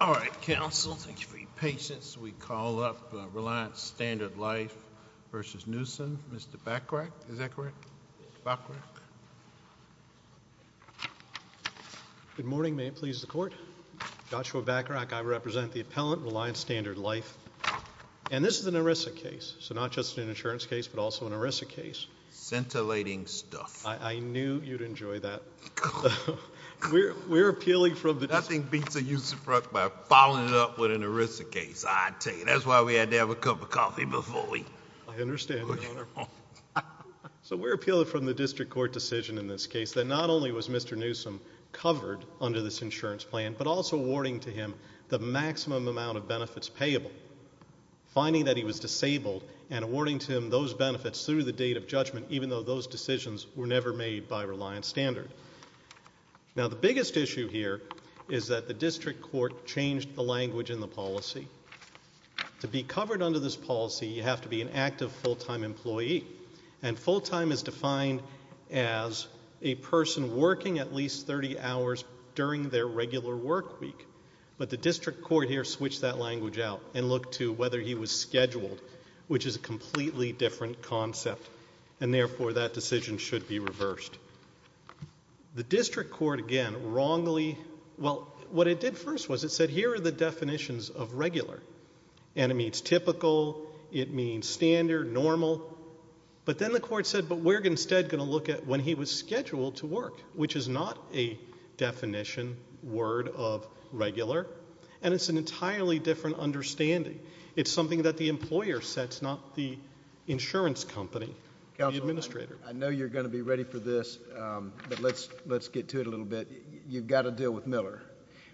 All right, counsel. Thank you for your patience. We call up Reliance Stnrd Life v. Newsom. Mr. Bachrach, is that correct? Bachrach? Good morning. May it please the court? Joshua Bachrach. I represent the appellant, Reliance Stnrd Life. And this is an ERISA case, so not just an insurance case, but also an ERISA case. Scintillating stuff. I knew you'd enjoy that. We're appealing from the district court decision in this case that not only was Mr. Newsom covered under this insurance plan, but also awarding to him the maximum amount of benefits payable. Finding that he was disabled and awarding to him those benefits through the date of judgment, even though those decisions were never made by Reliance Stnrd. Now, the biggest issue here is that the district court changed the language in the policy. To be covered under this policy, you have to be an active, full-time employee. And full-time is defined as a person working at least 30 hours during their regular work week. But the district court here switched that language out and looked to whether he was scheduled, which is a completely different concept. And, therefore, that decision should be reversed. The district court, again, wrongly, well, what it did first was it said here are the definitions of regular. And it means typical. It means standard, normal. But then the court said, but we're instead going to look at when he was scheduled to work, which is not a definition word of regular. And it's an entirely different understanding. It's something that the employer sets, not the insurance company, the administrator. I know you're going to be ready for this, but let's get to it a little bit. You've got to deal with Miller.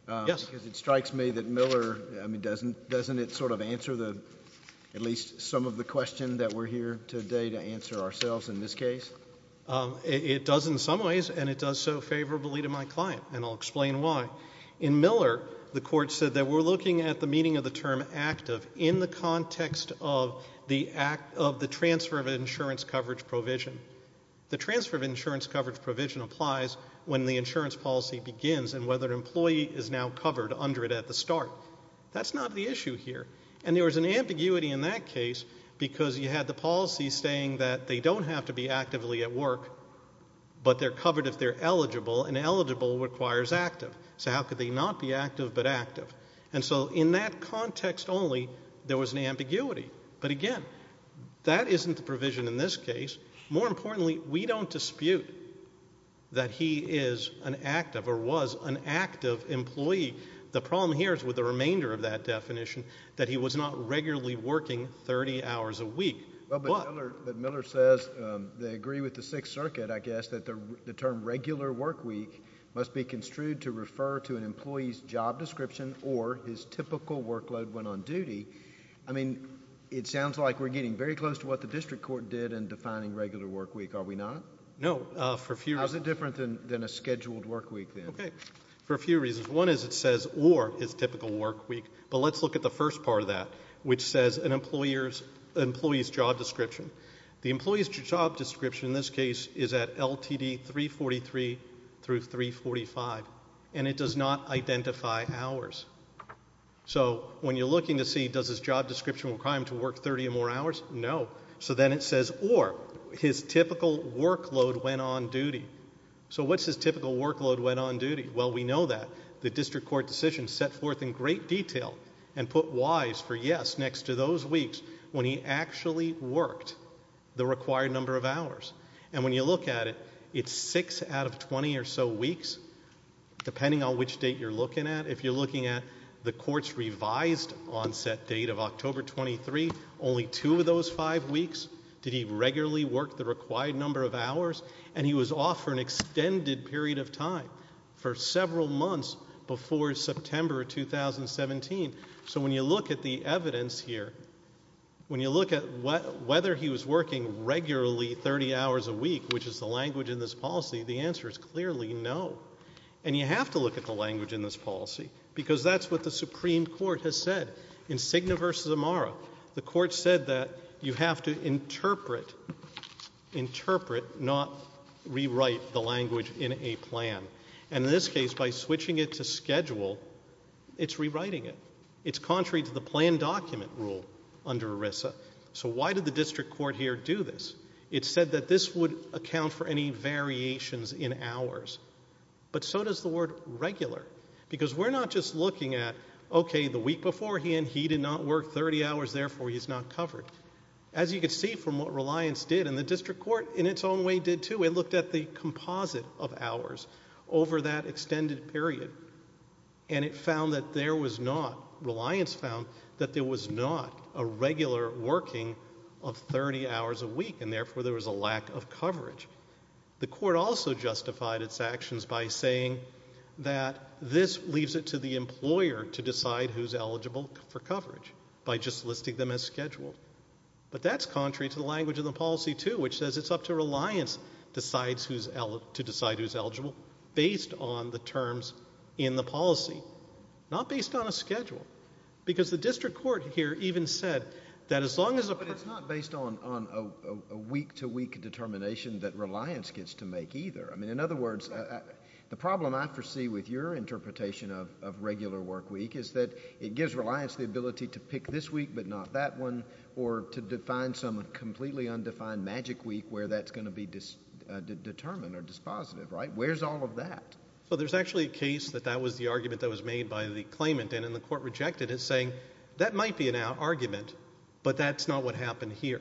Yes. Because it strikes me that Miller, I mean, doesn't it sort of answer at least some of the question that we're here today to answer ourselves in this case? It does in some ways, and it does so favorably to my client, and I'll explain why. In Miller, the court said that we're looking at the meaning of the term active in the context of the transfer of insurance coverage provision. The transfer of insurance coverage provision applies when the insurance policy begins and whether an employee is now covered under it at the start. That's not the issue here. And there was an ambiguity in that case because you had the policy saying that they don't have to be actively at work, but they're covered if they're eligible, and eligible requires active. So how could they not be active but active? And so in that context only, there was an ambiguity. But again, that isn't the provision in this case. More importantly, we don't dispute that he is an active or was an active employee. The problem here is with the remainder of that definition that he was not regularly working 30 hours a week. But Miller says they agree with the Sixth Circuit, I guess, that the term regular work week must be construed to refer to an employee's job description or his typical workload when on duty. I mean, it sounds like we're getting very close to what the district court did in defining regular work week. Are we not? No. How is it different than a scheduled work week then? Okay. For a few reasons. One is it says or his typical work week. But let's look at the first part of that, which says an employee's job description. The employee's job description in this case is at LTD 343 through 345, and it does not identify hours. So when you're looking to see does his job description require him to work 30 or more hours? No. So then it says or his typical workload when on duty. So what's his typical workload when on duty? Well, we know that. The district court decision set forth in great detail and put whys for yes next to those weeks when he actually worked the required number of hours. And when you look at it, it's six out of 20 or so weeks, depending on which date you're looking at. If you're looking at the court's revised onset date of October 23, only two of those five weeks did he regularly work the required number of hours? And he was off for an extended period of time for several months before September 2017. So when you look at the evidence here, when you look at whether he was working regularly 30 hours a week, which is the language in this policy, the answer is clearly no. And you have to look at the language in this policy because that's what the Supreme Court has said. In Cigna v. Amara, the court said that you have to interpret, interpret, not rewrite the language in a plan. And in this case, by switching it to schedule, it's rewriting it. It's contrary to the plan document rule under ERISA. So why did the district court here do this? It said that this would account for any variations in hours. But so does the word regular. Because we're not just looking at, okay, the week beforehand he did not work 30 hours, therefore he's not covered. As you can see from what Reliance did, and the district court in its own way did too, it looked at the composite of hours over that extended period. And it found that there was not, Reliance found that there was not a regular working of 30 hours a week, and therefore there was a lack of coverage. The court also justified its actions by saying that this leaves it to the employer to decide who's eligible for coverage by just listing them as scheduled. But that's contrary to the language of the policy too, which says it's up to Reliance to decide who's eligible based on the terms in the policy, not based on a schedule. Because the district court here even said that as long as a person – But it's not based on a week-to-week determination that Reliance gets to make either. I mean, in other words, the problem I foresee with your interpretation of regular work week is that it gives Reliance the ability to pick this week but not that one, or to define some completely undefined magic week where that's going to be determined or dispositive, right? Where's all of that? Well, there's actually a case that that was the argument that was made by the claimant. And the court rejected it, saying that might be an argument, but that's not what happened here.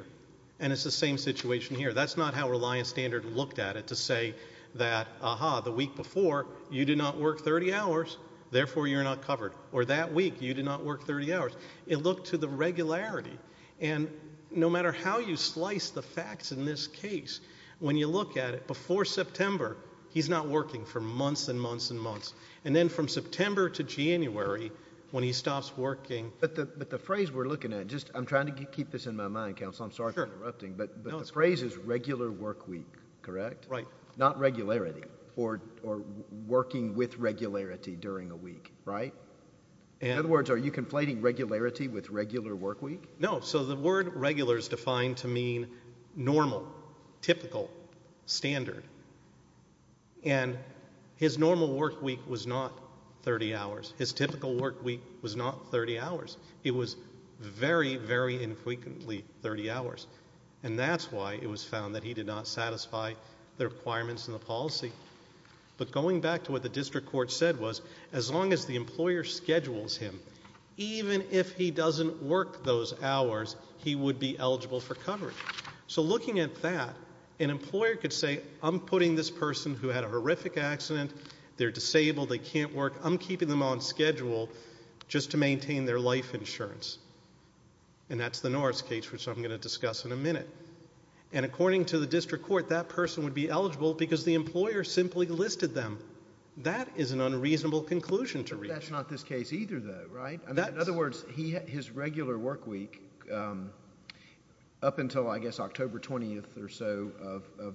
And it's the same situation here. That's not how Reliance Standard looked at it to say that, aha, the week before, you did not work 30 hours, therefore you're not covered. Or that week, you did not work 30 hours. It looked to the regularity. And no matter how you slice the facts in this case, when you look at it, before September, he's not working for months and months and months. And then from September to January, when he stops working – But the phrase we're looking at – I'm trying to keep this in my mind, counsel. I'm sorry for interrupting. But the phrase is regular work week, correct? Right. Not regularity or working with regularity during a week, right? In other words, are you conflating regularity with regular work week? No. So the word regular is defined to mean normal, typical, standard. And his normal work week was not 30 hours. His typical work week was not 30 hours. It was very, very infrequently 30 hours. And that's why it was found that he did not satisfy the requirements in the policy. But going back to what the district court said was, as long as the employer schedules him, even if he doesn't work those hours, he would be eligible for coverage. So looking at that, an employer could say, I'm putting this person who had a horrific accident, they're disabled, they can't work, I'm keeping them on schedule just to maintain their life insurance. And that's the Norris case, which I'm going to discuss in a minute. And according to the district court, that person would be eligible because the employer simply listed them. That is an unreasonable conclusion to reach. But that's not this case either, though, right? In other words, his regular work week up until, I guess, October 20th or so of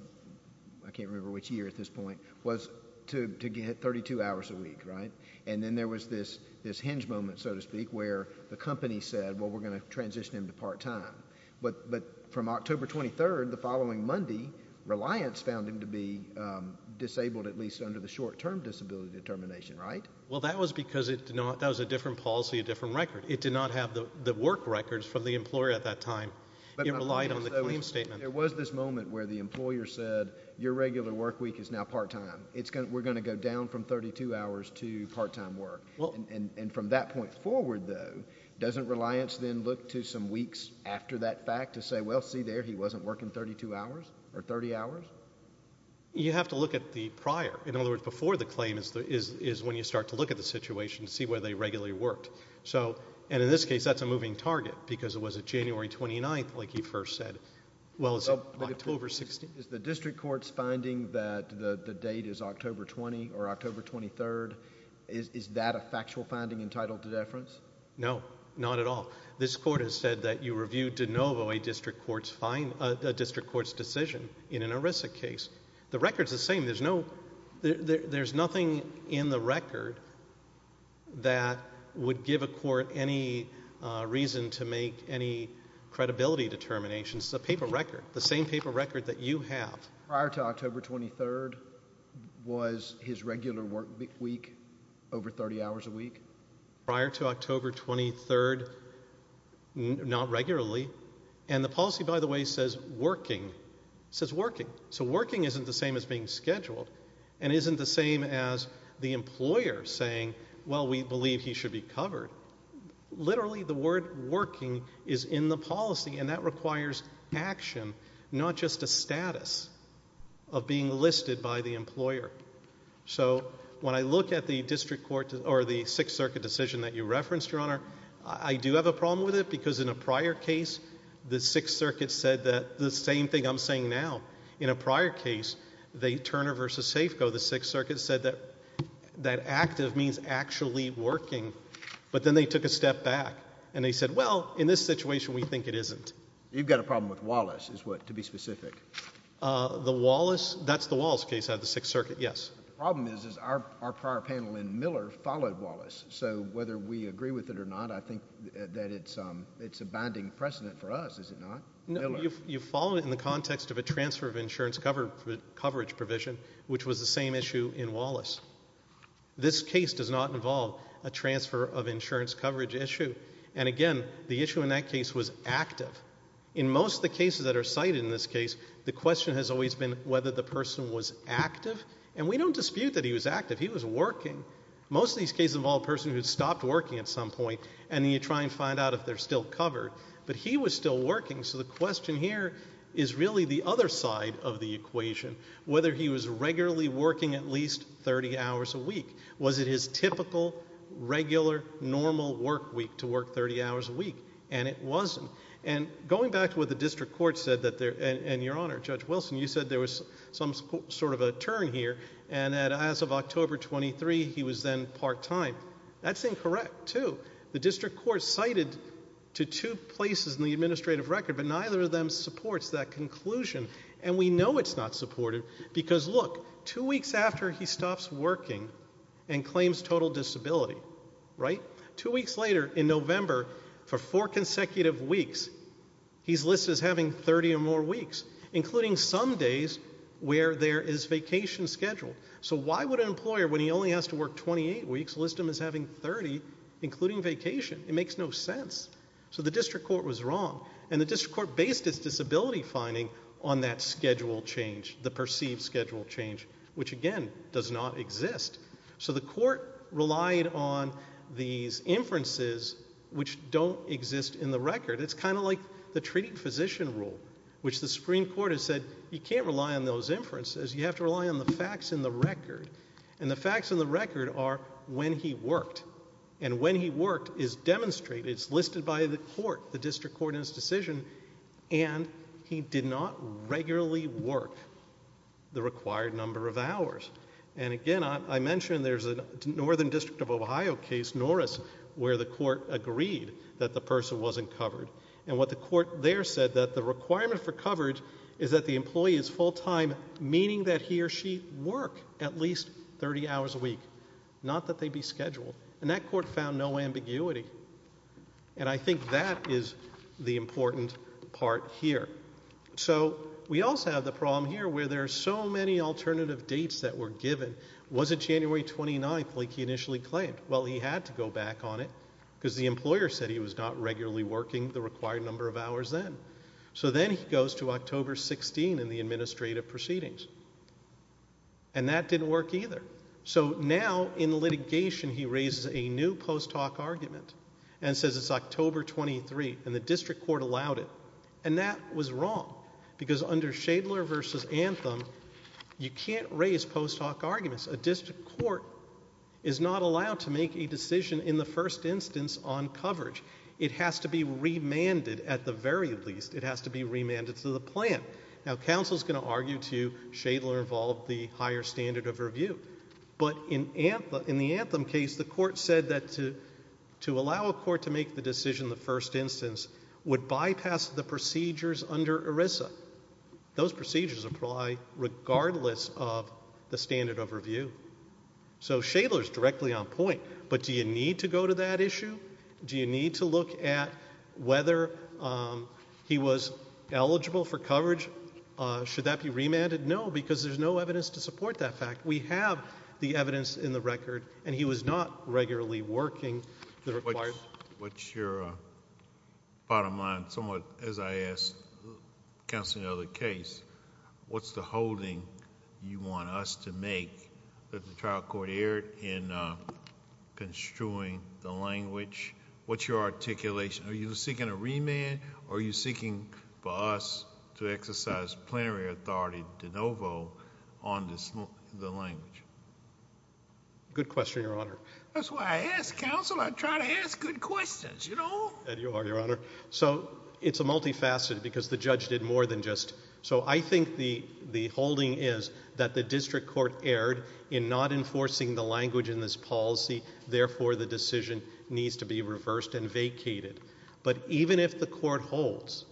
I can't remember which year at this point, was to get 32 hours a week, right? And then there was this hinge moment, so to speak, where the company said, well, we're going to transition him to part time. But from October 23rd, the following Monday, Reliance found him to be disabled, at least under the short-term disability determination, right? Well, that was because that was a different policy, a different record. It did not have the work records from the employer at that time. It relied on the claim statement. There was this moment where the employer said, your regular work week is now part time. We're going to go down from 32 hours to part time work. And from that point forward, though, doesn't Reliance then look to some weeks after that fact to say, well, see there, he wasn't working 32 hours or 30 hours? You have to look at the prior. In other words, before the claim is when you start to look at the situation and see where they regularly worked. And in this case, that's a moving target because it was a January 29th, like you first said. Well, it's October 16th. Is the district court's finding that the date is October 20 or October 23rd, is that a factual finding entitled to deference? No, not at all. This court has said that you reviewed de novo a district court's decision in an ERISA case. The record's the same. There's nothing in the record that would give a court any reason to make any credibility determinations. It's a paper record, the same paper record that you have. Prior to October 23rd, was his regular work week over 30 hours a week? Prior to October 23rd, not regularly. And the policy, by the way, says working. It says working. So working isn't the same as being scheduled and isn't the same as the employer saying, well, we believe he should be covered. Literally, the word working is in the policy, and that requires action, not just a status of being listed by the employer. So when I look at the district court or the Sixth Circuit decision that you referenced, Your Honor, I do have a problem with it In a prior case, Turner v. Safeco, the Sixth Circuit said that active means actually working. But then they took a step back, and they said, well, in this situation, we think it isn't. You've got a problem with Wallace, to be specific. That's the Wallace case out of the Sixth Circuit, yes. The problem is our prior panel in Miller followed Wallace. So whether we agree with it or not, I think that it's a binding precedent for us, is it not? You follow it in the context of a transfer of insurance coverage provision, which was the same issue in Wallace. This case does not involve a transfer of insurance coverage issue. And again, the issue in that case was active. In most of the cases that are cited in this case, the question has always been whether the person was active. And we don't dispute that he was active. He was working. Most of these cases involve a person who stopped working at some point, and you try and find out if they're still covered. But he was still working. So the question here is really the other side of the equation, whether he was regularly working at least 30 hours a week. Was it his typical, regular, normal work week to work 30 hours a week? And it wasn't. And going back to what the district court said, and, Your Honor, Judge Wilson, you said there was some sort of a turn here, and that as of October 23, he was then part-time. That's incorrect, too. The district court cited to two places in the administrative record, but neither of them supports that conclusion. And we know it's not supported because, look, two weeks after he stops working and claims total disability, right, two weeks later in November, for four consecutive weeks, he's listed as having 30 or more weeks, including some days where there is vacation scheduled. So why would an employer, when he only has to work 28 weeks, list him as having 30, including vacation? It makes no sense. So the district court was wrong, and the district court based its disability finding on that schedule change, the perceived schedule change, which, again, does not exist. So the court relied on these inferences, which don't exist in the record. It's kind of like the treating physician rule, which the Supreme Court has said you can't rely on those inferences. You have to rely on the facts in the record, and the facts in the record are when he worked. And when he worked is demonstrated, it's listed by the court, the district court in its decision, and he did not regularly work the required number of hours. And, again, I mentioned there's a Northern District of Ohio case, Norris, where the court agreed that the person wasn't covered. And what the court there said, that the requirement for coverage is that the employee is full-time, meaning that he or she work at least 30 hours a week, not that they be scheduled. And that court found no ambiguity. And I think that is the important part here. So we also have the problem here where there are so many alternative dates that were given. Was it January 29th like he initially claimed? Well, he had to go back on it because the employer said he was not regularly working the required number of hours then. So then he goes to October 16 in the administrative proceedings. And that didn't work either. So now in litigation, he raises a new post hoc argument and says it's October 23, and the district court allowed it. And that was wrong because under Shadler v. Anthem, you can't raise post hoc arguments. A district court is not allowed to make a decision in the first instance on coverage. It has to be remanded at the very least. It has to be remanded to the plan. Now, counsel is going to argue to Shadler involved the higher standard of review. But in the Anthem case, the court said that to allow a court to make the decision in the first instance would bypass the procedures under ERISA. Those procedures apply regardless of the standard of review. So Shadler is directly on point. But do you need to go to that issue? Do you need to look at whether he was eligible for coverage? Should that be remanded? No, because there's no evidence to support that fact. We have the evidence in the record, and he was not regularly working the required. What's your bottom line somewhat, as I asked counsel in the other case? What's the holding you want us to make that the trial court erred in construing the language? What's your articulation? Are you seeking a remand, or are you seeking for us to exercise plenary authority de novo on the language? Good question, Your Honor. That's why I ask counsel. I try to ask good questions, you know? And you are, Your Honor. So it's a multifaceted, because the judge did more than just. So I think the holding is that the district court erred in not enforcing the language in this policy. Therefore, the decision needs to be reversed and vacated. But even if the court holds,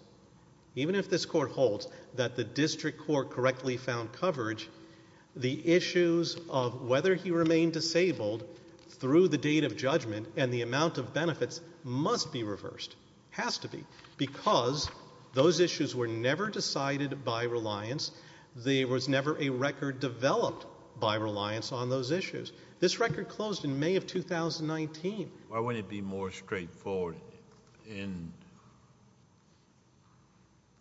even if this court holds that the district court correctly found coverage, the issues of whether he remained disabled through the date of judgment and the amount of benefits must be reversed, has to be, because those issues were never decided by reliance. There was never a record developed by reliance on those issues. This record closed in May of 2019. Why wouldn't it be more straightforward in,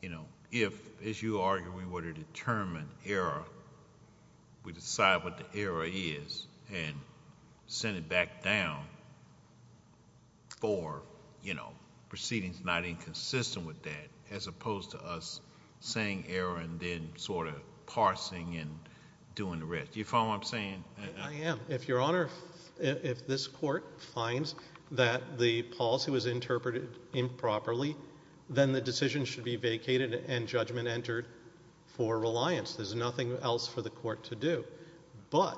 you know, if, as you argue, we were to determine error, we decide what the error is and send it back down for, you know, proceedings not inconsistent with that, as opposed to us saying error and then sort of parsing and doing the rest. Do you follow what I'm saying? I am. If Your Honor, if this court finds that the policy was interpreted improperly, then the decision should be vacated and judgment entered for reliance. There's nothing else for the court to do. But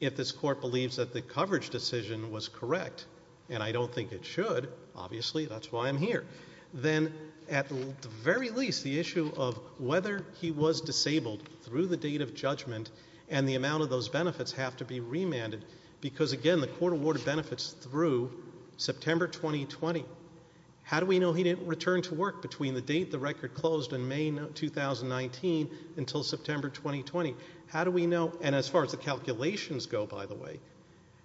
if this court believes that the coverage decision was correct, and I don't think it should, obviously, that's why I'm here, then at the very least, the issue of whether he was disabled through the date of judgment and the amount of those benefits have to be remanded, because, again, the court awarded benefits through September 2020. How do we know he didn't return to work between the date the record closed in May 2019 until September 2020? How do we know, and as far as the calculations go, by the way,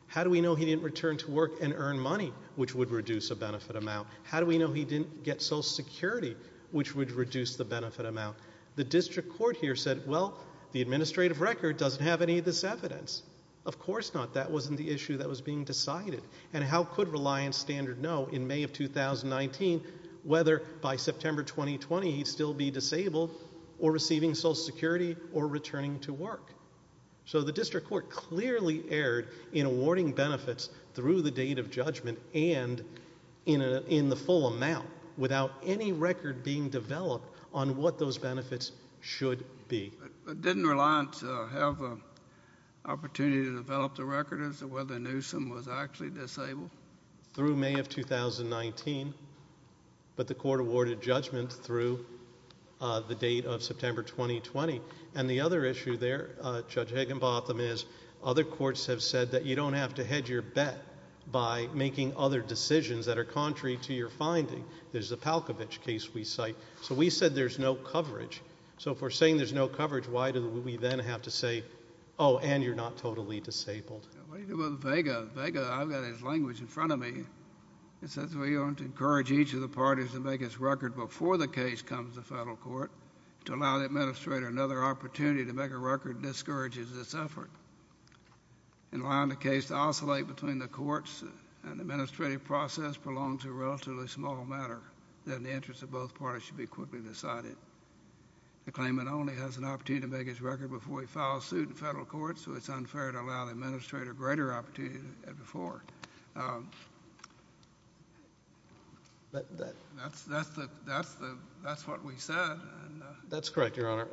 how do we know he didn't return to work and earn money, which would reduce a benefit amount? How do we know he didn't get Social Security, which would reduce the benefit amount? The district court here said, well, the administrative record doesn't have any of this evidence. Of course not. That wasn't the issue that was being decided. And how could reliance standard know in May of 2019 whether, by September 2020, he'd still be disabled or receiving Social Security or returning to work? So the district court clearly erred in awarding benefits through the date of judgment and in the full amount without any record being developed on what those benefits should be. Didn't reliance have an opportunity to develop the record as to whether Newsom was actually disabled? Through May of 2019, but the court awarded judgment through the date of September 2020. And the other issue there, Judge Higginbotham, is other courts have said that you don't have to hedge your bet by making other decisions that are contrary to your finding. There's the Palkovich case we cite. So we said there's no coverage. So if we're saying there's no coverage, why do we then have to say, oh, and you're not totally disabled? What do you do about Vega? Vega, I've got his language in front of me. It says we want to encourage each of the parties to make its record before the case comes to federal court to allow the administrator another opportunity to make a record that discourages this effort and allowing the case to oscillate between the courts and the administrative process prolongs to a relatively small matter that in the interest of both parties should be quickly decided. The claimant only has an opportunity to make his record before he files suit in federal court, so it's unfair to allow the administrator a greater opportunity than before. That's what we said. That's correct, Your Honor.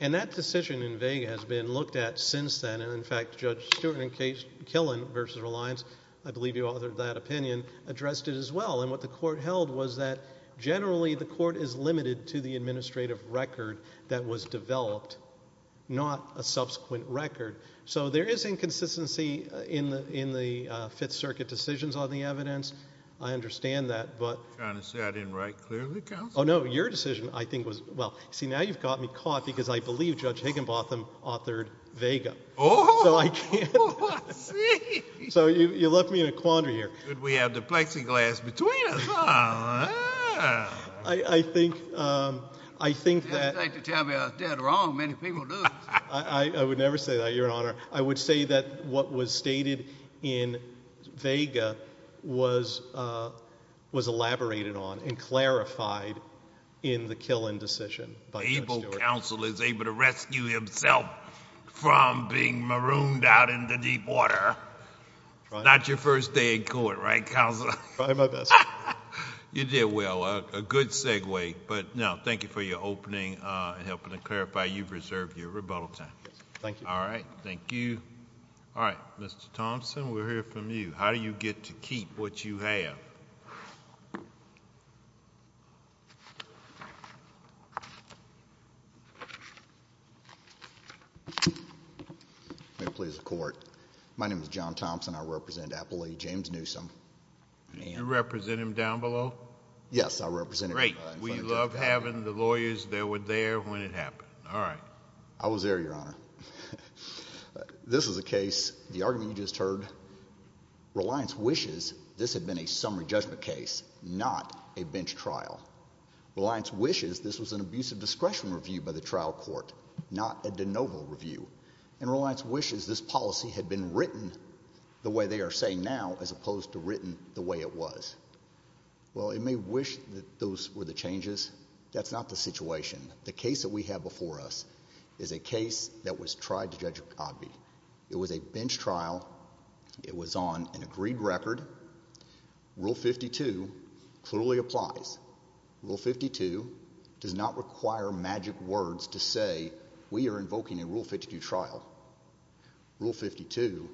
And that decision in Vega has been looked at since then, and, in fact, Judge Stewart and Killen versus Reliance, I believe you authored that opinion, addressed it as well. And what the court held was that generally the court is limited to the administrative record that was developed, not a subsequent record. So there is inconsistency in the Fifth Circuit decisions on the evidence. I understand that. I'm trying to say I didn't write clearly, counsel. Oh, no, your decision, I think, was well. See, now you've got me caught because I believe Judge Higginbotham authored Vega. Oh, I see. So you left me in a quandary here. We have the plexiglass between us. I think that. You don't have to tell me I did wrong. Many people do. I would never say that, Your Honor. I would say that what was stated in Vega was elaborated on and clarified in the Killen decision by Judge Stewart. Able counsel is able to rescue himself from being marooned out in the deep water. Not your first day in court, right, counsel? Probably my best. You did well. A good segue. But, no, thank you for your opening and helping to clarify. You've reserved your rebuttal time. Thank you. All right. Thank you. All right. Mr. Thompson, we'll hear from you. How do you get to keep what you have? May it please the Court. My name is John Thompson. I represent Appalachian James Newsom. You represent him down below? Yes, I represent him. Great. We love having the lawyers that were there when it happened. All right. I was there, Your Honor. This is a case, the argument you just heard, Reliance wishes this had been a summary judgment case, not a bench trial. Reliance wishes this was an abusive discretion review by the trial court, not a de novo review. And Reliance wishes this policy had been written the way they are saying now as opposed to written the way it was. Well, it may wish that those were the changes. That's not the situation. The case that we have before us is a case that was tried to Judge Ogbee. It was a bench trial. It was on an agreed record. Rule 52 clearly applies. Rule 52 does not require magic words to say we are invoking a Rule 52 trial. Rule 52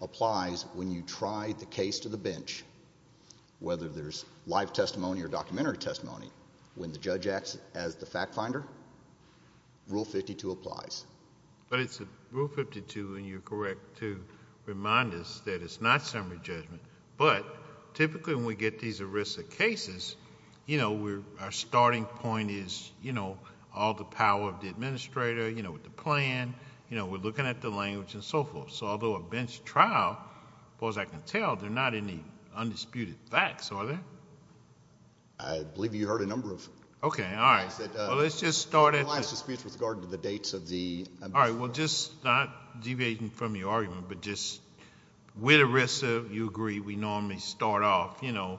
applies when you try the case to the bench, whether there's live testimony or documentary testimony. When the judge acts as the fact finder, Rule 52 applies. But it's Rule 52, and you're correct to remind us that it's not summary judgment, but typically when we get these arrest of cases, you know, our starting point is, you know, all the power of the administrator, you know, with the plan, you know, we're looking at the language and so forth. So although a bench trial, as far as I can tell, there are not any undisputed facts, are there? I believe you heard a number of things. Okay. All right. Well, let's just start at... The last dispute was regarding the dates of the... All right. Well, just not deviating from your argument, but just with ERISA, you agree we normally start off, you know,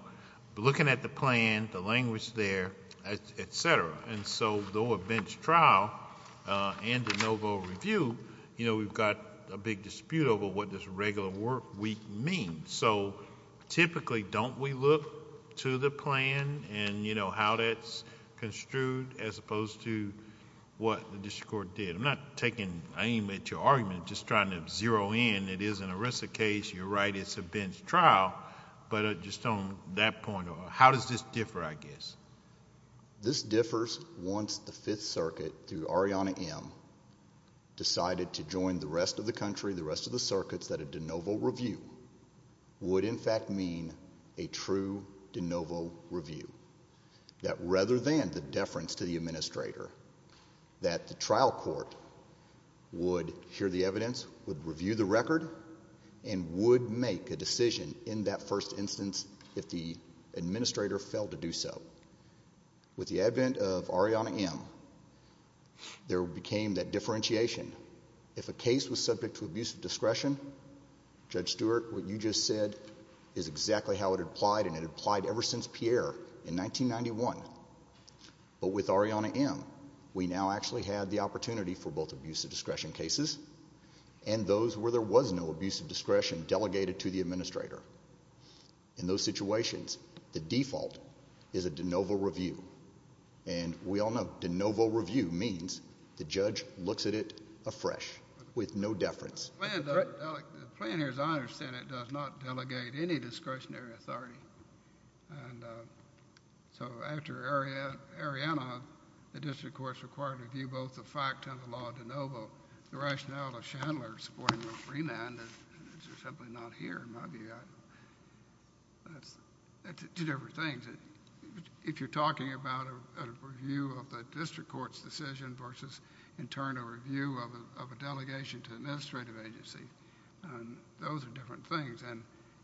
looking at the plan, the language there, et cetera. And so though a bench trial and a no vote review, you know, we've got a big dispute over what this regular work week means. So typically, don't we look to the plan and, you know, how that's construed as opposed to what the district court did? I'm not taking aim at your argument, just trying to zero in. It is an ERISA case. You're right, it's a bench trial. But just on that point, how does this differ, I guess? This differs once the Fifth Circuit, through Arianna M., decided to join the rest of the country, the rest of the circuits, that a de novo review would in fact mean a true de novo review, that rather than the deference to the administrator, that the trial court would hear the evidence, would review the record, and would make a decision in that first instance if the administrator failed to do so. With the advent of Arianna M., there became that differentiation. If a case was subject to abuse of discretion, Judge Stewart, what you just said is exactly how it applied, and it applied ever since Pierre in 1991. But with Arianna M., we now actually have the opportunity for both abuse of discretion cases and those where there was no abuse of discretion delegated to the administrator. In those situations, the default is a de novo review. And we all know de novo review means the judge looks at it afresh, with no deference. The plan here, as I understand it, does not delegate any discretionary authority. And so after Arianna, the district court is required to review both the fact and the law de novo. So the rationale of Chandler supporting the remand is simply not here, in my view. That's two different things. If you're talking about a review of the district court's decision versus, in turn, a review of a delegation to an administrative agency, those are different things. And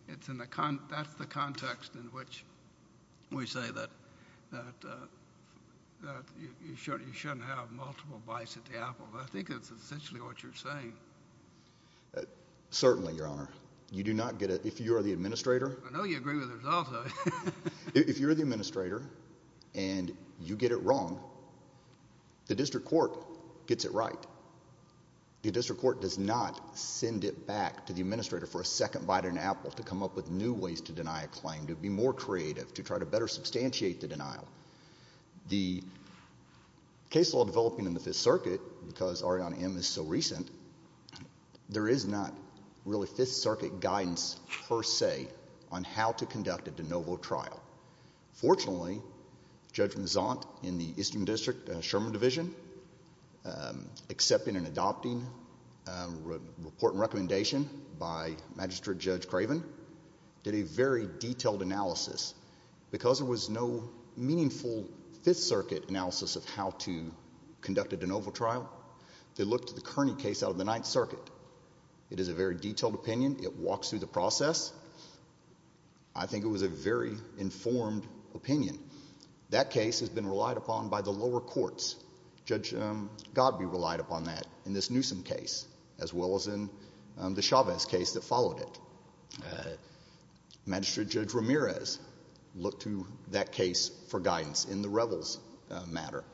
that's the context in which we say that you shouldn't have multiple bites at the apple. But I think that's essentially what you're saying. Certainly, Your Honor. You do not get a—if you are the administrator— I know you agree with the results of it. If you're the administrator and you get it wrong, the district court gets it right. The district court does not send it back to the administrator for a second bite at an apple to come up with new ways to deny a claim, to be more creative, to try to better substantiate the denial. The case law developing in the Fifth Circuit, because Arianna M. is so recent, there is not really Fifth Circuit guidance per se on how to conduct a de novo trial. Fortunately, Judge Mazant in the Eastern District Sherman Division, accepting and adopting a report and recommendation by Magistrate Judge Craven, did a very detailed analysis. Because there was no meaningful Fifth Circuit analysis of how to conduct a de novo trial, they looked at the Kearney case out of the Ninth Circuit. It is a very detailed opinion. It walks through the process. I think it was a very informed opinion. That case has been relied upon by the lower courts. Judge Godby relied upon that in this Newsom case, as well as in the Chavez case that followed it. Magistrate Judge Ramirez looked to that case for guidance in the Revels matter.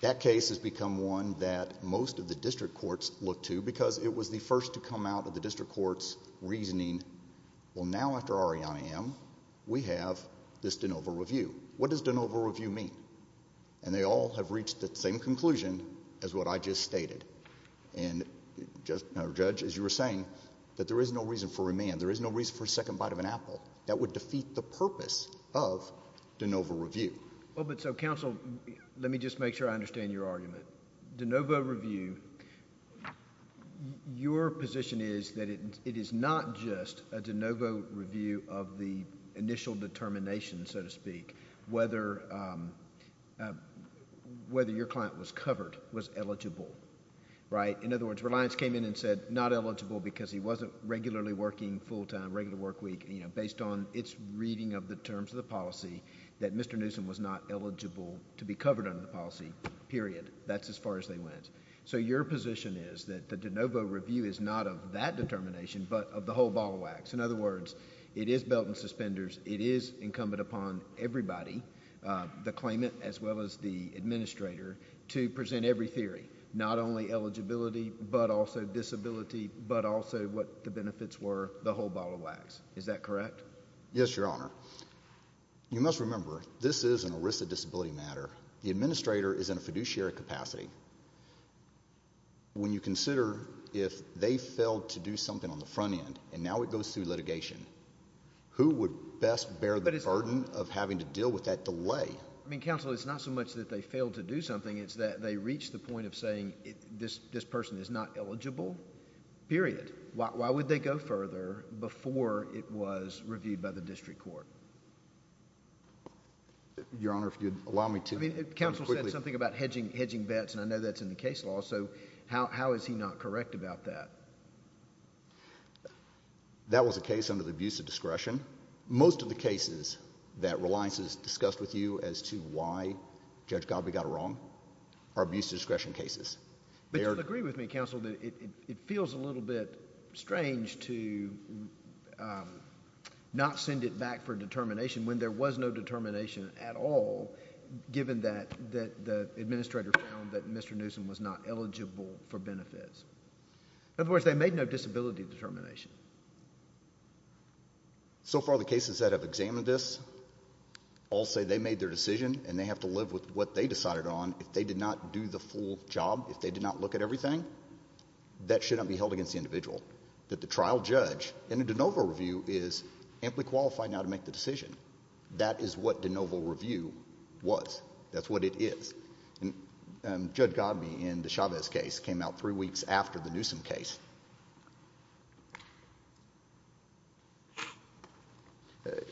That case has become one that most of the district courts look to because it was the first to come out of the district court's reasoning, well, now after Arianna M., we have this de novo review. What does de novo review mean? They all have reached the same conclusion as what I just stated. Judge, as you were saying, that there is no reason for remand. There is no reason for a second bite of an apple. That would defeat the purpose of de novo review. Counsel, let me just make sure I understand your argument. De novo review, your position is that it is not just a de novo review of the initial determination, so to speak. Whether your client was covered, was eligible, right? In other words, Reliance came in and said not eligible because he wasn't regularly working full time, regular work week, based on its reading of the terms of the policy, that Mr. Newsom was not eligible to be covered under the policy, period. That's as far as they went. Your position is that the de novo review is not of that determination, but of the whole ball of wax. In other words, it is belt and suspenders. It is incumbent upon everybody, the claimant as well as the administrator, to present every theory, not only eligibility, but also disability, but also what the benefits were, the whole ball of wax. Is that correct? Yes, Your Honor. You must remember, this is a risk of disability matter. The administrator is in a fiduciary capacity. When you consider if they failed to do something on the front end and now it goes through litigation, who would best bear the burden of having to deal with that delay? I mean, Counsel, it's not so much that they failed to do something, it's that they reached the point of saying this person is not eligible, period. Why would they go further before it was reviewed by the district court? Your Honor, if you'd allow me to. Counsel said something about hedging bets, and I know that's in the case law, so how is he not correct about that? That was a case under the abuse of discretion. Most of the cases that Reliances discussed with you as to why Judge Galbraith got it wrong are abuse of discretion cases. But you'll agree with me, Counsel, that it feels a little bit strange to not send it back for determination when there was no determination at all, given that the administrator found that Mr. Newsom was not eligible for benefits. In other words, they made no disability determination. So far the cases that have examined this all say they made their decision and they have to live with what they decided on. If they did not do the full job, if they did not look at everything, that should not be held against the individual. That the trial judge in a de novo review is amply qualified now to make the decision. That is what de novo review was. That's what it is. Judge Godbee in the Chavez case came out three weeks after the Newsom case.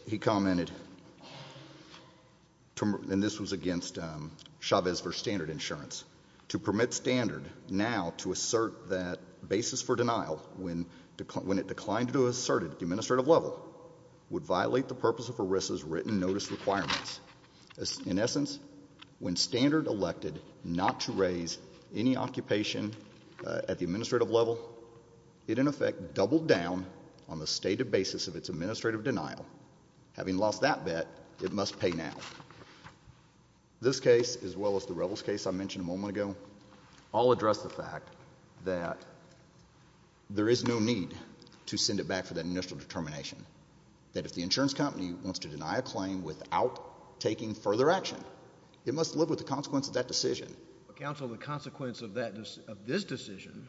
He commented, and this was against Chavez v. Standard Insurance, to permit Standard now to assert that basis for denial when it declined to assert it at the administrative level would violate the purpose of ERISA's written notice requirements. In essence, when Standard elected not to raise any occupation at the administrative level, it in effect doubled down on the stated basis of its administrative denial. Having lost that bet, it must pay now. This case, as well as the Revels case I mentioned a moment ago, all address the fact that there is no need to send it back for that initial determination. That if the insurance company wants to deny a claim without taking further action, it must live with the consequence of that decision. Counsel, the consequence of this decision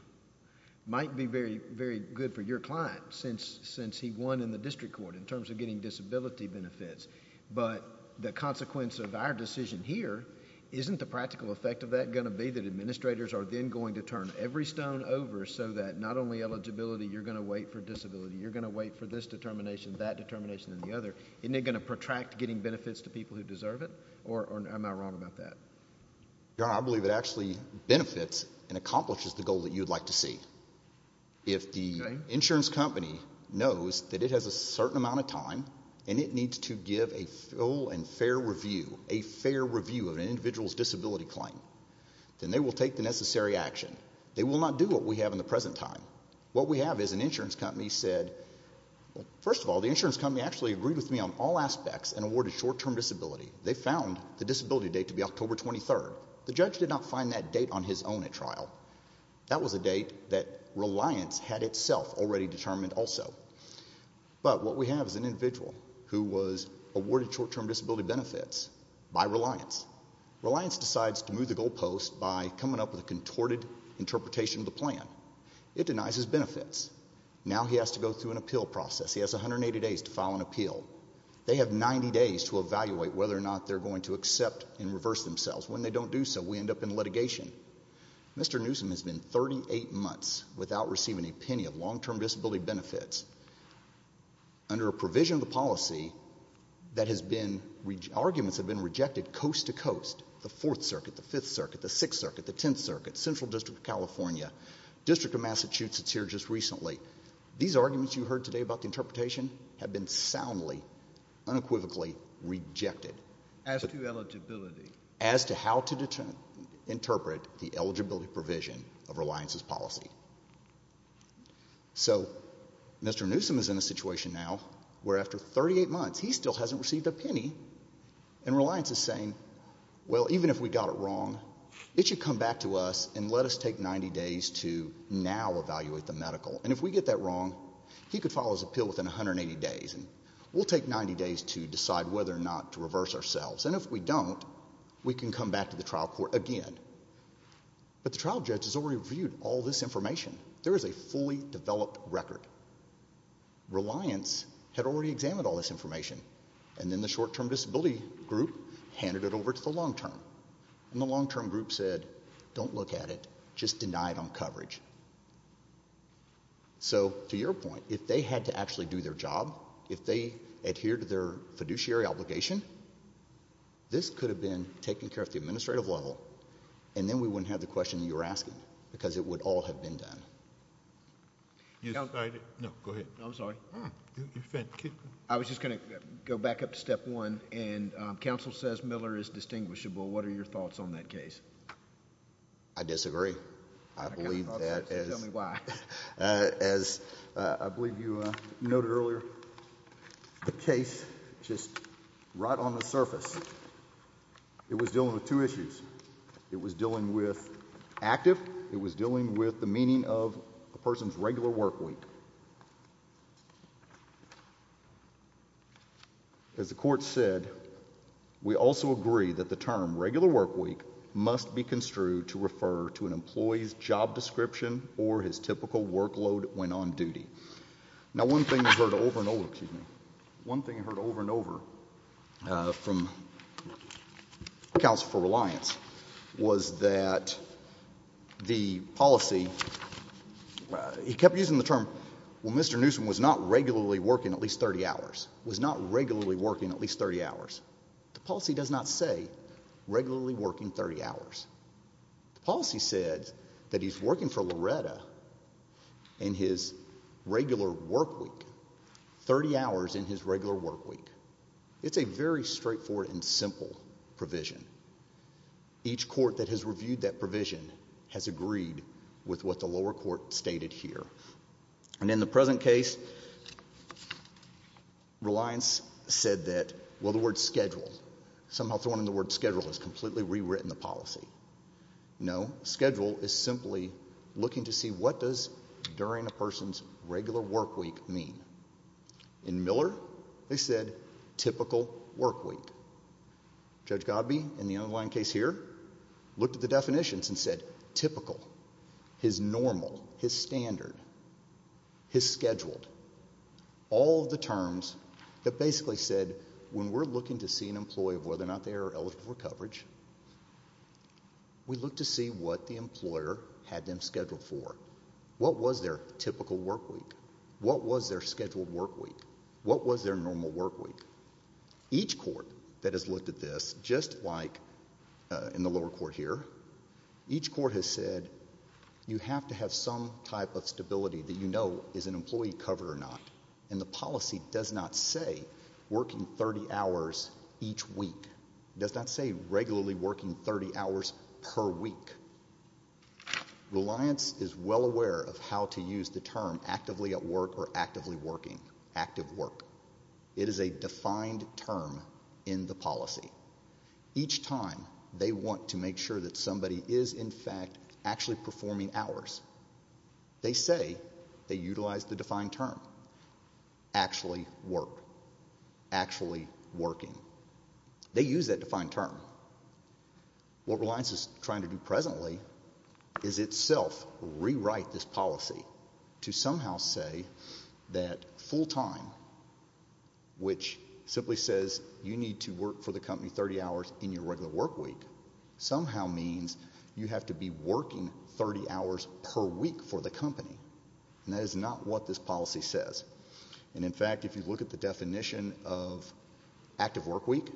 might be very good for your client, since he won in the district court in terms of getting disability benefits. But the consequence of our decision here isn't the practical effect of that going to be that administrators are then going to turn every stone over so that not only eligibility, you're going to wait for disability. You're going to wait for this determination, that determination, and the other. Isn't it going to protract getting benefits to people who deserve it? Or am I wrong about that? Your Honor, I believe it actually benefits and accomplishes the goal that you would like to see. If the insurance company knows that it has a certain amount of time and it needs to give a full and fair review, a fair review of an individual's disability claim, then they will take the necessary action. They will not do what we have in the present time. What we have is an insurance company said, first of all, the insurance company actually agreed with me on all aspects and awarded short-term disability. They found the disability date to be October 23rd. The judge did not find that date on his own at trial. That was a date that Reliance had itself already determined also. But what we have is an individual who was awarded short-term disability benefits by Reliance. Reliance decides to move the goalpost by coming up with a contorted interpretation of the plan. It denies his benefits. Now he has to go through an appeal process. He has 180 days to file an appeal. They have 90 days to evaluate whether or not they're going to accept and reverse themselves. When they don't do so, we end up in litigation. Mr. Newsom has been 38 months without receiving a penny of long-term disability benefits under a provision of the policy that has been, arguments have been rejected coast to coast. The Fourth Circuit, the Fifth Circuit, the Sixth Circuit, the Tenth Circuit, Central District of California, District of Massachusetts here just recently, these arguments you heard today about the interpretation have been soundly, unequivocally rejected. As to eligibility. As to how to interpret the eligibility provision of Reliance's policy. So Mr. Newsom is in a situation now where after 38 months he still hasn't received a penny, and Reliance is saying, well, even if we got it wrong, it should come back to us and let us take 90 days to now evaluate the medical. And if we get that wrong, he could file his appeal within 180 days and we'll take 90 days to decide whether or not to reverse ourselves. And if we don't, we can come back to the trial court again. But the trial judge has already reviewed all this information. There is a fully developed record. Reliance had already examined all this information And the long-term group said, don't look at it, just deny it on coverage. So to your point, if they had to actually do their job, if they adhered to their fiduciary obligation, this could have been taken care of at the administrative level and then we wouldn't have the question you were asking because it would all have been done. No, go ahead. I'm sorry. I was just going to go back up to step one. And counsel says Miller is distinguishable. What are your thoughts on that case? I disagree. I believe that is why, as I believe you noted earlier, the case just right on the surface. It was dealing with two issues. It was dealing with active. It was dealing with the meaning of a person's regular work week. As the court said, we also agree that the term regular work week must be construed to refer to an employee's job description or his typical workload when on duty. Now one thing I heard over and over from counsel for Reliance was that the policy, he kept using the term, well, Mr. Newsom was not regularly working at least 30 hours, was not regularly working at least 30 hours. The policy does not say regularly working 30 hours. The policy said that he's working for Loretta in his regular work week, 30 hours in his regular work week. It's a very straightforward and simple provision. Each court that has reviewed that provision has agreed with what the lower court stated here. And in the present case, Reliance said that, well, the word schedule, somehow thrown in the word schedule has completely rewritten the policy. No, schedule is simply looking to see what does during a person's regular work week mean. In Miller, they said typical work week. Judge Godbee, in the underlying case here, looked at the definitions and said typical, his normal, his standard, his scheduled, all of the terms that basically said when we're looking to see an employee of whether or not they are eligible for coverage, we look to see what the employer had them scheduled for. What was their typical work week? What was their scheduled work week? What was their normal work week? Each court that has looked at this, just like in the lower court here, each court has said you have to have some type of stability that you know is an employee covered or not. And the policy does not say working 30 hours each week. It does not say regularly working 30 hours per week. Reliance is well aware of how to use the term actively at work or actively working, active work. It is a defined term in the policy. Each time they want to make sure that somebody is, in fact, actually performing hours, they say they utilize the defined term, actually work, actually working. They use that defined term. What Reliance is trying to do presently is itself rewrite this policy to somehow say that full-time, which simply says you need to work for the company 30 hours in your regular work week, somehow means you have to be working 30 hours per week for the company. And that is not what this policy says. And, in fact, if you look at the definition of active work week,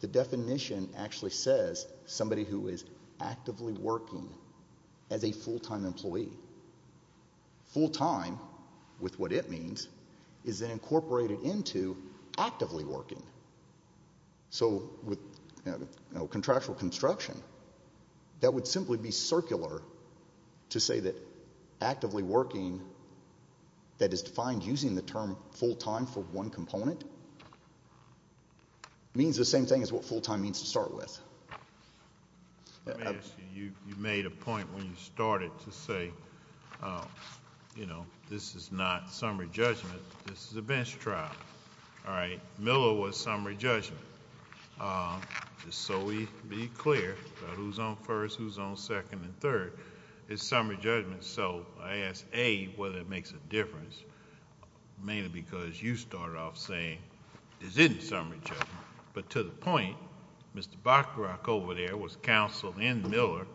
the definition actually says somebody who is actively working as a full-time employee. Full-time, with what it means, is then incorporated into actively working. So with contractual construction, that would simply be circular to say that actively working, that is defined using the term full-time for one component, means the same thing as what full-time means to start with. You made a point when you started to say, you know, this is not summary judgment. This is a bench trial. All right. Miller was summary judgment. So we need to be clear about who is on first, who is on second, and third. It is summary judgment. So I ask, A, whether it makes a difference, mainly because you started off saying there is any summary judgment. But to the point, Mr. Bacharach over there was counsel in Miller,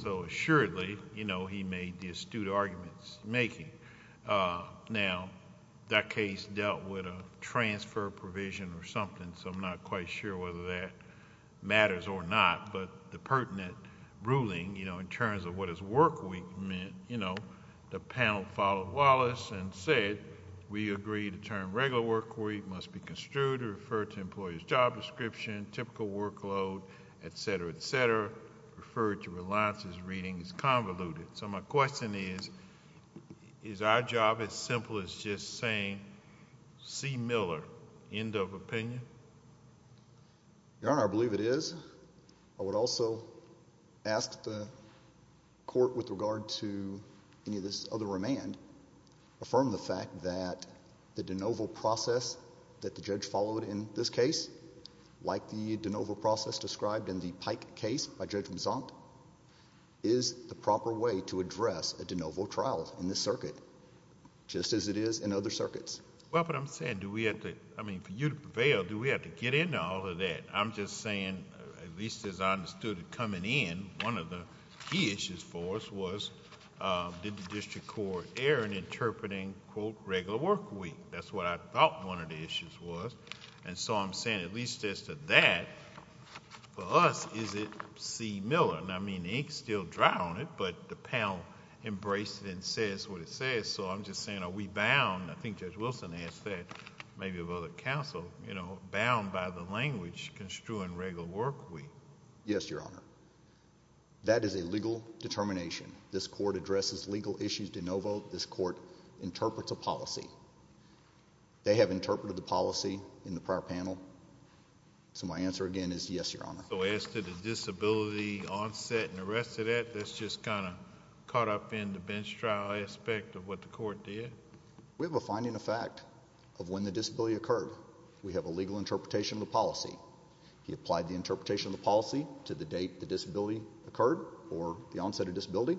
so assuredly, you know, he made the astute arguments making. Now, that case dealt with a transfer provision or something, so I'm not quite sure whether that matters or not. But the pertinent ruling, you know, in terms of what is work week meant, you know, the panel followed Wallace and said, we agree the term regular work week must be construed or referred to employee's job description, typical workload, et cetera, et cetera, referred to reliance as reading is convoluted. So my question is, is our job as simple as just saying, see Miller, end of opinion? Your Honor, I believe it is. I would also ask the court with regard to any of this other remand affirm the fact that the de novo process that the judge followed in this case, like the de novo process described in the Pike case by Judge Mazant, is the proper way to address a de novo trial in this circuit, just as it is in other circuits. Well, but I'm saying, do we have to, I mean, for you to prevail, do we have to get into all of that? I'm just saying, at least as I understood it coming in, one of the key issues for us was, did the district court err in interpreting, quote, regular work week? That's what I thought one of the issues was. And so I'm saying, at least as to that, for us, is it see Miller? I mean, the ink's still dry on it, but the panel embraced it and says what it says. So I'm just saying, are we bound, I think Judge Wilson asked that, maybe of other counsel, you know, bound by the language construing regular work week? Yes, Your Honor. That is a legal determination. This court addresses legal issues de novo. This court interprets a policy. They have interpreted the policy in the prior panel. So my answer, again, is yes, Your Honor. So as to the disability onset and the rest of that, that's just kind of caught up in the bench trial aspect of what the court did? We have a finding of fact of when the disability occurred. We have a legal interpretation of the policy. He applied the interpretation of the policy to the date the disability occurred or the onset of disability,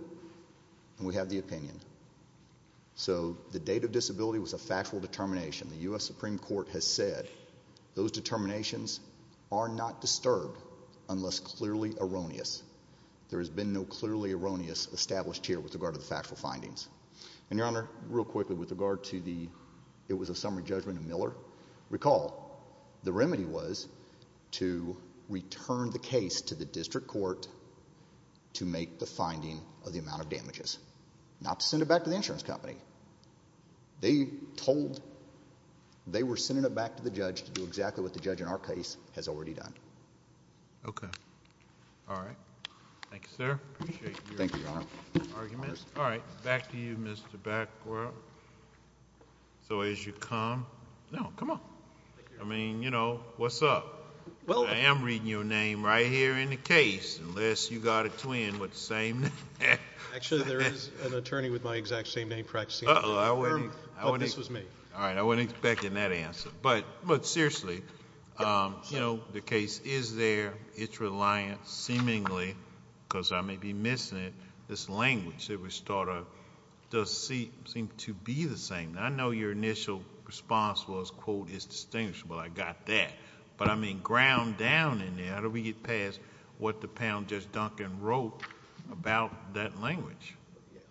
and we have the opinion. So the date of disability was a factual determination. The U.S. Supreme Court has said those determinations are not disturbed unless clearly erroneous. There has been no clearly erroneous established here with regard to the factual findings. And, Your Honor, real quickly with regard to the it was a summary judgment of Miller, recall the remedy was to return the case to the district court to make the finding of the amount of damages, not to send it back to the insurance company. They told they were sending it back to the judge to do exactly what the judge in our case has already done. Okay. All right. Thank you, sir. Appreciate your arguments. All right. Back to you, Mr. Bacow. Well, so as you come, no, come on. I mean, you know, what's up? Well, I am reading your name right here in the case unless you got a twin with the same name. Actually, there is an attorney with my exact same name practicing law. Uh-oh. This was me. All right. I wasn't expecting that answer. But seriously, you know, the case is there. It's reliant seemingly because I may be missing it. I think this language that we started does seem to be the same. I know your initial response was, quote, it's distinguishable. I got that. But, I mean, ground down in there, how do we get past what the panel just dunked and wrote about that language?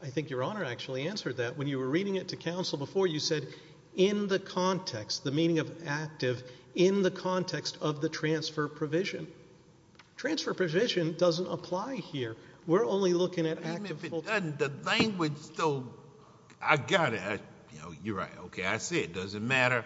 I think Your Honor actually answered that. When you were reading it to counsel before, you said in the context, the meaning of active, in the context of the transfer provision. Transfer provision doesn't apply here. We're only looking at... Even if it doesn't, the language still... I got it. You know, you're right. Okay, I see it. It doesn't matter.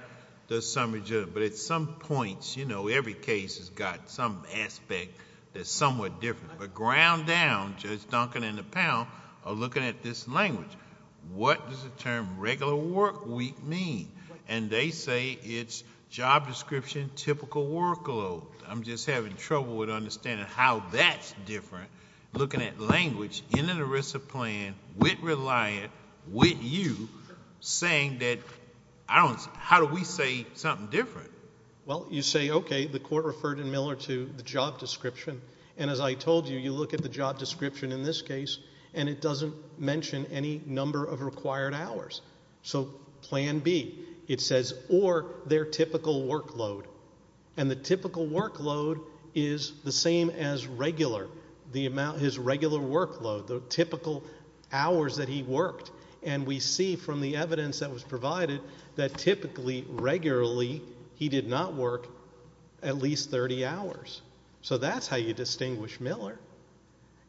There's some... But at some points, you know, every case has got some aspect that's somewhat different. But ground down, Judge Duncan and the panel are looking at this language. What does the term regular work week mean? And they say it's job description, typical workload. I'm just having trouble with understanding how that's different. Looking at language in an ERISA plan with Reliant, with you, saying that... How do we say something different? Well, you say, okay, the court referred in Miller to the job description. And as I told you, you look at the job description in this case, and it doesn't mention any number of required hours. So plan B, it says, or their typical workload. And the typical workload is the same as regular. His regular workload, the typical hours that he worked. And we see from the evidence that was provided that typically, regularly, he did not work at least 30 hours. So that's how you distinguish Miller.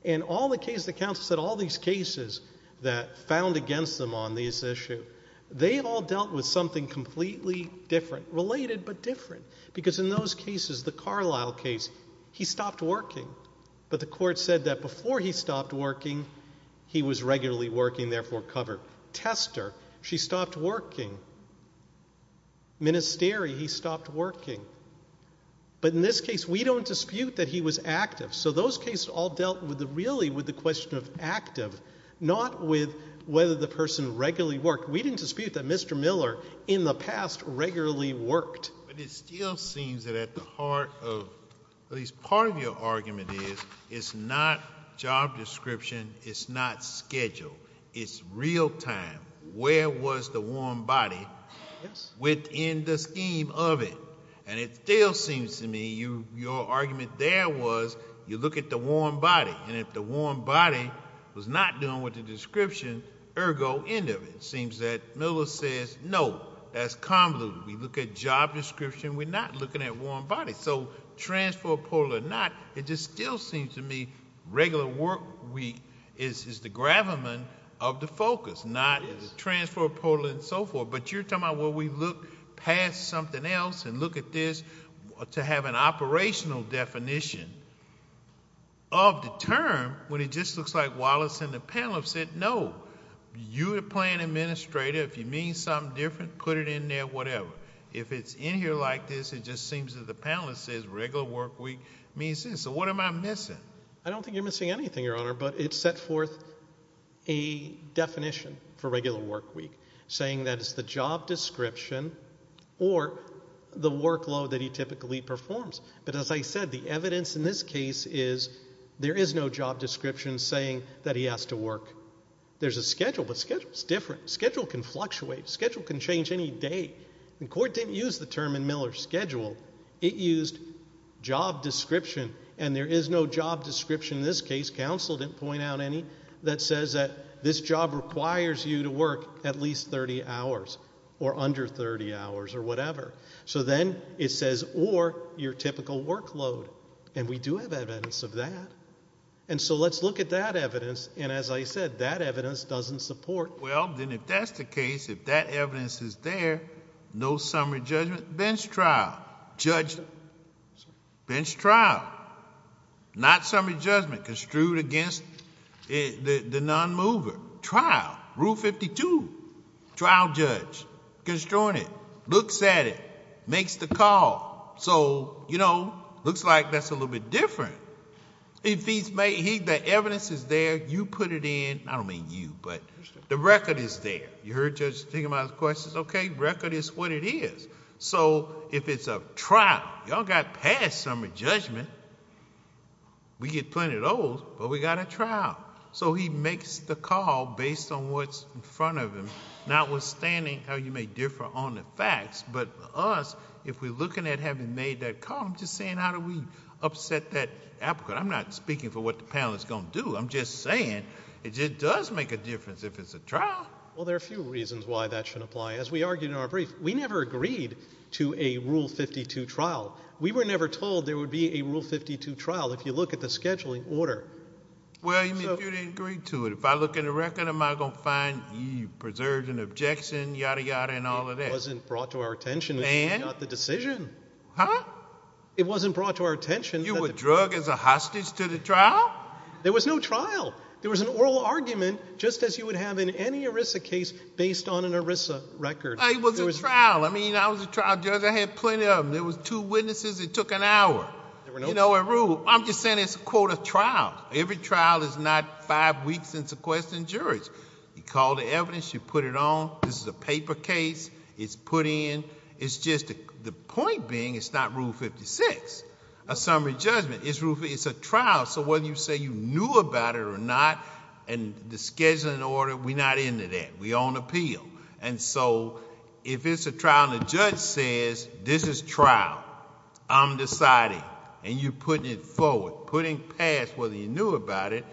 And all the cases, the counsel said all these cases that found against them on this issue, they all dealt with something completely different, related but different. Because in those cases, the Carlisle case, he stopped working. But the court said that before he stopped working, he was regularly working, therefore covered. Tester, she stopped working. Ministry, he stopped working. But in this case, we don't dispute that he was active. So those cases all dealt really with the question of active, not with whether the person regularly worked. We didn't dispute that Mr. Miller in the past regularly worked. But it still seems that at the heart of at least part of your argument is it's not job description, it's not schedule. It's real time. Where was the warm body within the scheme of it? And it still seems to me your argument there was you look at the warm body. And if the warm body was not doing what the description, ergo, end of it. It seems that Miller says, no, that's convoluted. We look at job description. We're not looking at warm body. So transfer portal or not, it just still seems to me regular workweek is the gravamen of the focus, not transfer portal and so forth. But you're talking about, well, we look past something else and look at this to have an operational definition of the term when it just looks like Wallace and the panel have said, no, you're the plan administrator. If you mean something different, put it in there, whatever. If it's in here like this, it just seems that the panelist says regular workweek means this. So what am I missing? I don't think you're missing anything, Your Honor, but it set forth a definition for regular workweek, saying that it's the job description or the workload that he typically performs. But as I said, the evidence in this case is there is no job description saying that he has to work. There's a schedule, but schedule is different. Schedule can fluctuate. Schedule can change any day. And court didn't use the term in Miller's schedule. It used job description, and there is no job description in this case. Counsel didn't point out any that says that this job requires you to work at least 30 hours or under 30 hours or whatever. So then it says or your typical workload, and we do have evidence of that. And so let's look at that evidence, and as I said, that evidence doesn't support it. Bench trial. Not summary judgment, construed against the non-mover. Trial. Rule 52. Trial judge. Construing it. Looks at it. Makes the call. So, you know, looks like that's a little bit different. If the evidence is there, you put it in. I don't mean you, but the record is there. You heard Judge Stigma's question. Okay, record is what it is. So if it's a trial, y'all got past summary judgment, we get plenty of those, but we got a trial. So he makes the call based on what's in front of him, notwithstanding how you may differ on the facts, but us, if we're looking at having made that call, I'm just saying how do we upset that applicant. I'm not speaking for what the panel is going to do. I'm just saying it just does make a difference if it's a trial. Well, there are a few reasons why that shouldn't apply. As we argued in our brief, we never agreed to a Rule 52 trial. We were never told there would be a Rule 52 trial if you look at the scheduling order. Well, you didn't agree to it. If I look in the record, am I going to find you preserved an objection, yada, yada, and all of that? It wasn't brought to our attention until we got the decision. Huh? It wasn't brought to our attention. You were drug as a hostage to the trial? There was no trial. There was an oral argument just as you would have in any ERISA case based on an ERISA record. It was a trial. I mean, I was a trial judge. I had plenty of them. There was two witnesses. It took an hour. There were no rules. I'm just saying it's a quota trial. Every trial is not five weeks in sequestering juries. You call the evidence. You put it on. This is a paper case. It's put in. It's just the point being it's not Rule 56, a summary judgment. It's a trial. It's a trial. Whether you say you knew about it or not and the schedule and order, we're not into that. We own appeal. If it's a trial and the judge says, this is trial, I'm deciding, and you're putting it forward, putting past whether you knew about it,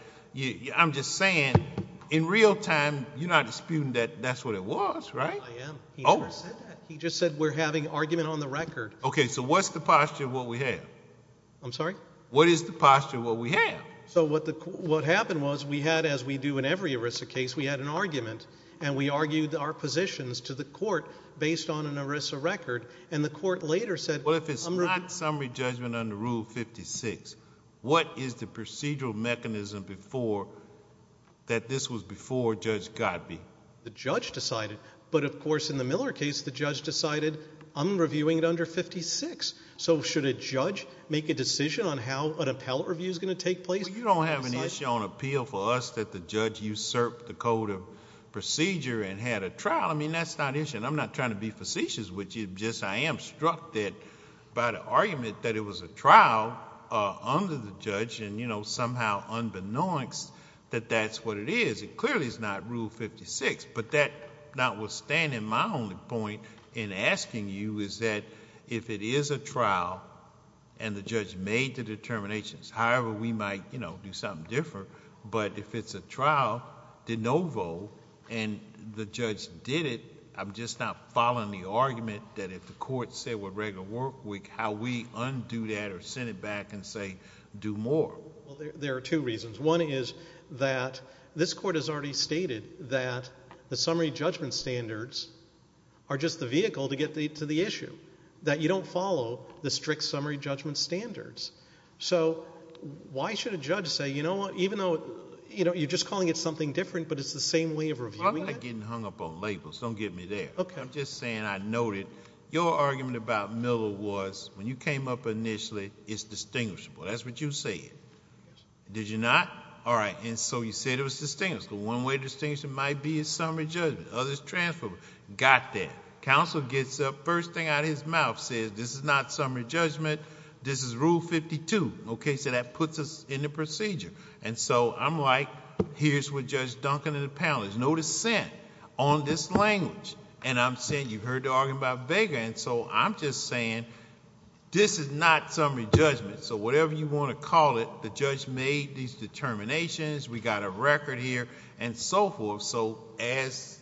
I'm just saying in real time, you're not disputing that that's what it was, right? I am. He never said that. He just said we're having argument on the record. Okay, so what's the posture of what we have? I'm sorry? What is the posture of what we have? So what happened was we had, as we do in every ERISA case, we had an argument, and we argued our positions to the court based on an ERISA record, and the court later said— Well, if it's not summary judgment under Rule 56, what is the procedural mechanism that this was before Judge Godbee? The judge decided. But, of course, in the Miller case, the judge decided I'm reviewing it under 56. So should a judge make a decision on how an appellate review is going to take place? Well, you don't have an issue on appeal for us that the judge usurped the code of procedure and had a trial. I mean, that's not an issue, and I'm not trying to be facetious with you. I am struck by the argument that it was a trial under the judge and, you know, somehow unbeknownst that that's what it is. It clearly is not Rule 56. But that notwithstanding, my only point in asking you is that if it is a trial and the judge made the determinations, however we might, you know, do something different, but if it's a trial de novo and the judge did it, I'm just not following the argument that if the court said we're ready to work, how we undo that or send it back and say do more? Well, there are two reasons. One is that this court has already stated that the summary judgment standards are just the vehicle to get to the issue, that you don't follow the strict summary judgment standards. So why should a judge say, you know what, even though you're just calling it something different but it's the same way of reviewing it? I'm not getting hung up on labels. Don't get me there. Okay. I'm just saying I noted your argument about Miller was when you came up initially, it's distinguishable. That's what you said. Did you not? All right. And so you said it was distinguishable. One way to distinguish it might be a summary judgment. Others transferred. Got that. Counsel gets up, first thing out of his mouth says this is not summary judgment. This is Rule 52. Okay. So that puts us in the procedure. And so I'm like, here's what Judge Duncan and the panel is. No dissent on this language. And I'm saying you heard the argument about Vega, and so I'm just saying this is not summary judgment. So whatever you want to call it, the judge made these determinations, we got a record here, and so forth. So as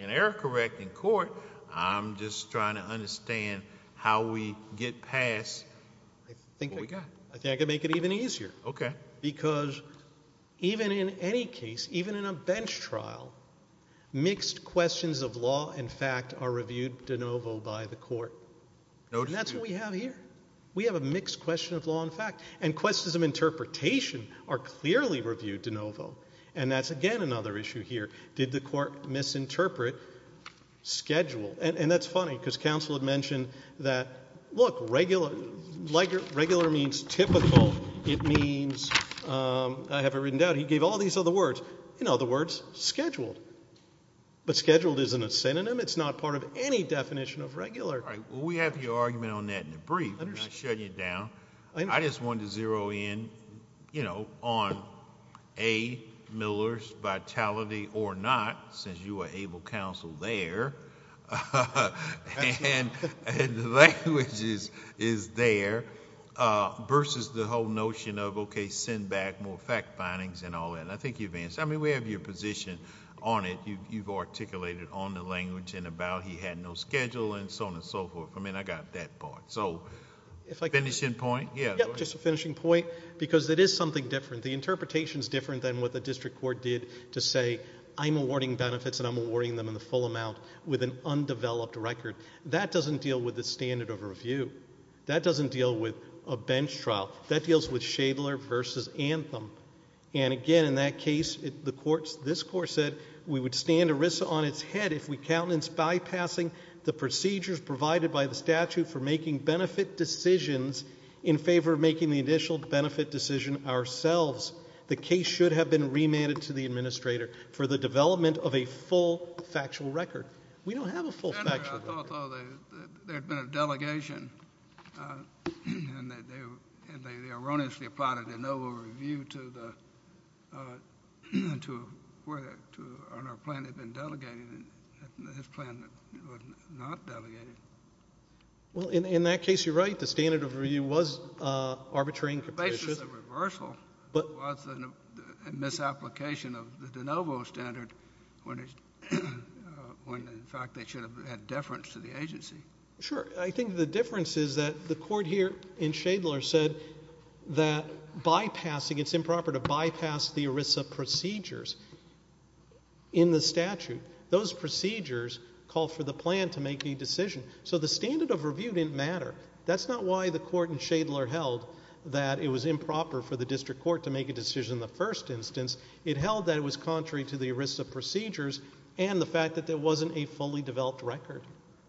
an error correct in court, I'm just trying to understand how we get past what we got. I think I could make it even easier. Okay. Because even in any case, even in a bench trial, mixed questions of law and fact are reviewed de novo by the court. And that's what we have here. We have a mixed question of law and fact. And questions of interpretation are clearly reviewed de novo. And that's, again, another issue here. Did the court misinterpret schedule? And that's funny because counsel had mentioned that, look, regular means typical. It means, I have it written down, he gave all these other words. In other words, scheduled. But scheduled isn't a synonym. It's not part of any definition of regular. All right. Well, we have your argument on that in a brief. I'm not shutting you down. I just wanted to zero in, you know, on A, Miller's vitality or not, since you are able counsel there. And the language is there. Versus the whole notion of, okay, send back more fact findings and all that. And I think you've answered. I mean, we have your position on it. You've articulated on the language and about he had no schedule and so on and so forth. I mean, I got that part. So finishing point? Yeah, go ahead. Just a finishing point. Because it is something different. The interpretation is different than what the district court did to say, I'm awarding benefits and I'm awarding them in the full amount with an undeveloped record. That doesn't deal with the standard of review. That doesn't deal with a bench trial. That deals with Shadler versus Anthem. And, again, in that case, this court said we would stand ERISA on its head if we countenance bypassing the procedures provided by the statute for making benefit decisions in favor of making the initial benefit decision ourselves. The case should have been remanded to the administrator for the development of a full factual record. We don't have a full factual record. I thought there had been a delegation and they erroneously applied a de novo review on our plan that had been delegated and this plan was not delegated. Well, in that case, you're right. The standard of review was arbitrary and capacious. It was a reversal. It was a misapplication of the de novo standard when, in fact, they should have had deference to the agency. Sure. I think the difference is that the court here in Shadler said that bypassing, it's improper to bypass the ERISA procedures in the statute. Those procedures call for the plan to make a decision. So the standard of review didn't matter. That's not why the court in Shadler held that it was improper for the district court to make a decision in the first instance. It held that it was contrary to the ERISA procedures and the fact that there wasn't a fully developed record,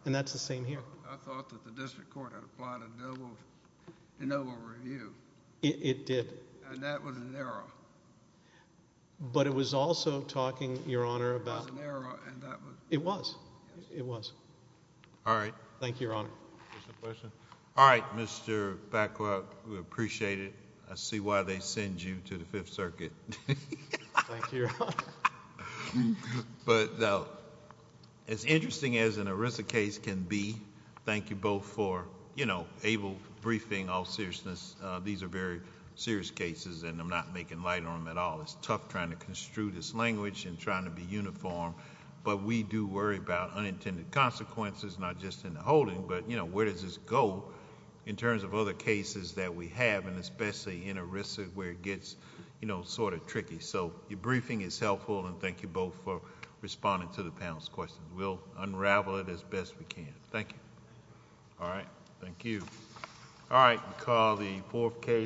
and that's the same here. I thought that the district court had applied a de novo review. It did. And that was an error. But it was also talking, Your Honor, about— It was an error and that was— It was. It was. All right. Thank you, Your Honor. Is there a question? All right, Mr. Bacow, we appreciate it. I see why they send you to the Fifth Circuit. Thank you, Your Honor. But as interesting as an ERISA case can be, thank you both for able briefing, all seriousness. These are very serious cases and I'm not making light on them at all. It's tough trying to construe this language and trying to be uniform, but we do worry about unintended consequences, not just in the holding, but where does this go in terms of other cases that we have, and especially in ERISA where it gets sort of tricky. So your briefing is helpful and thank you both for responding to the panel's questions. We'll unravel it as best we can. Thank you. All right. Thank you. All right. We'll call the fourth case.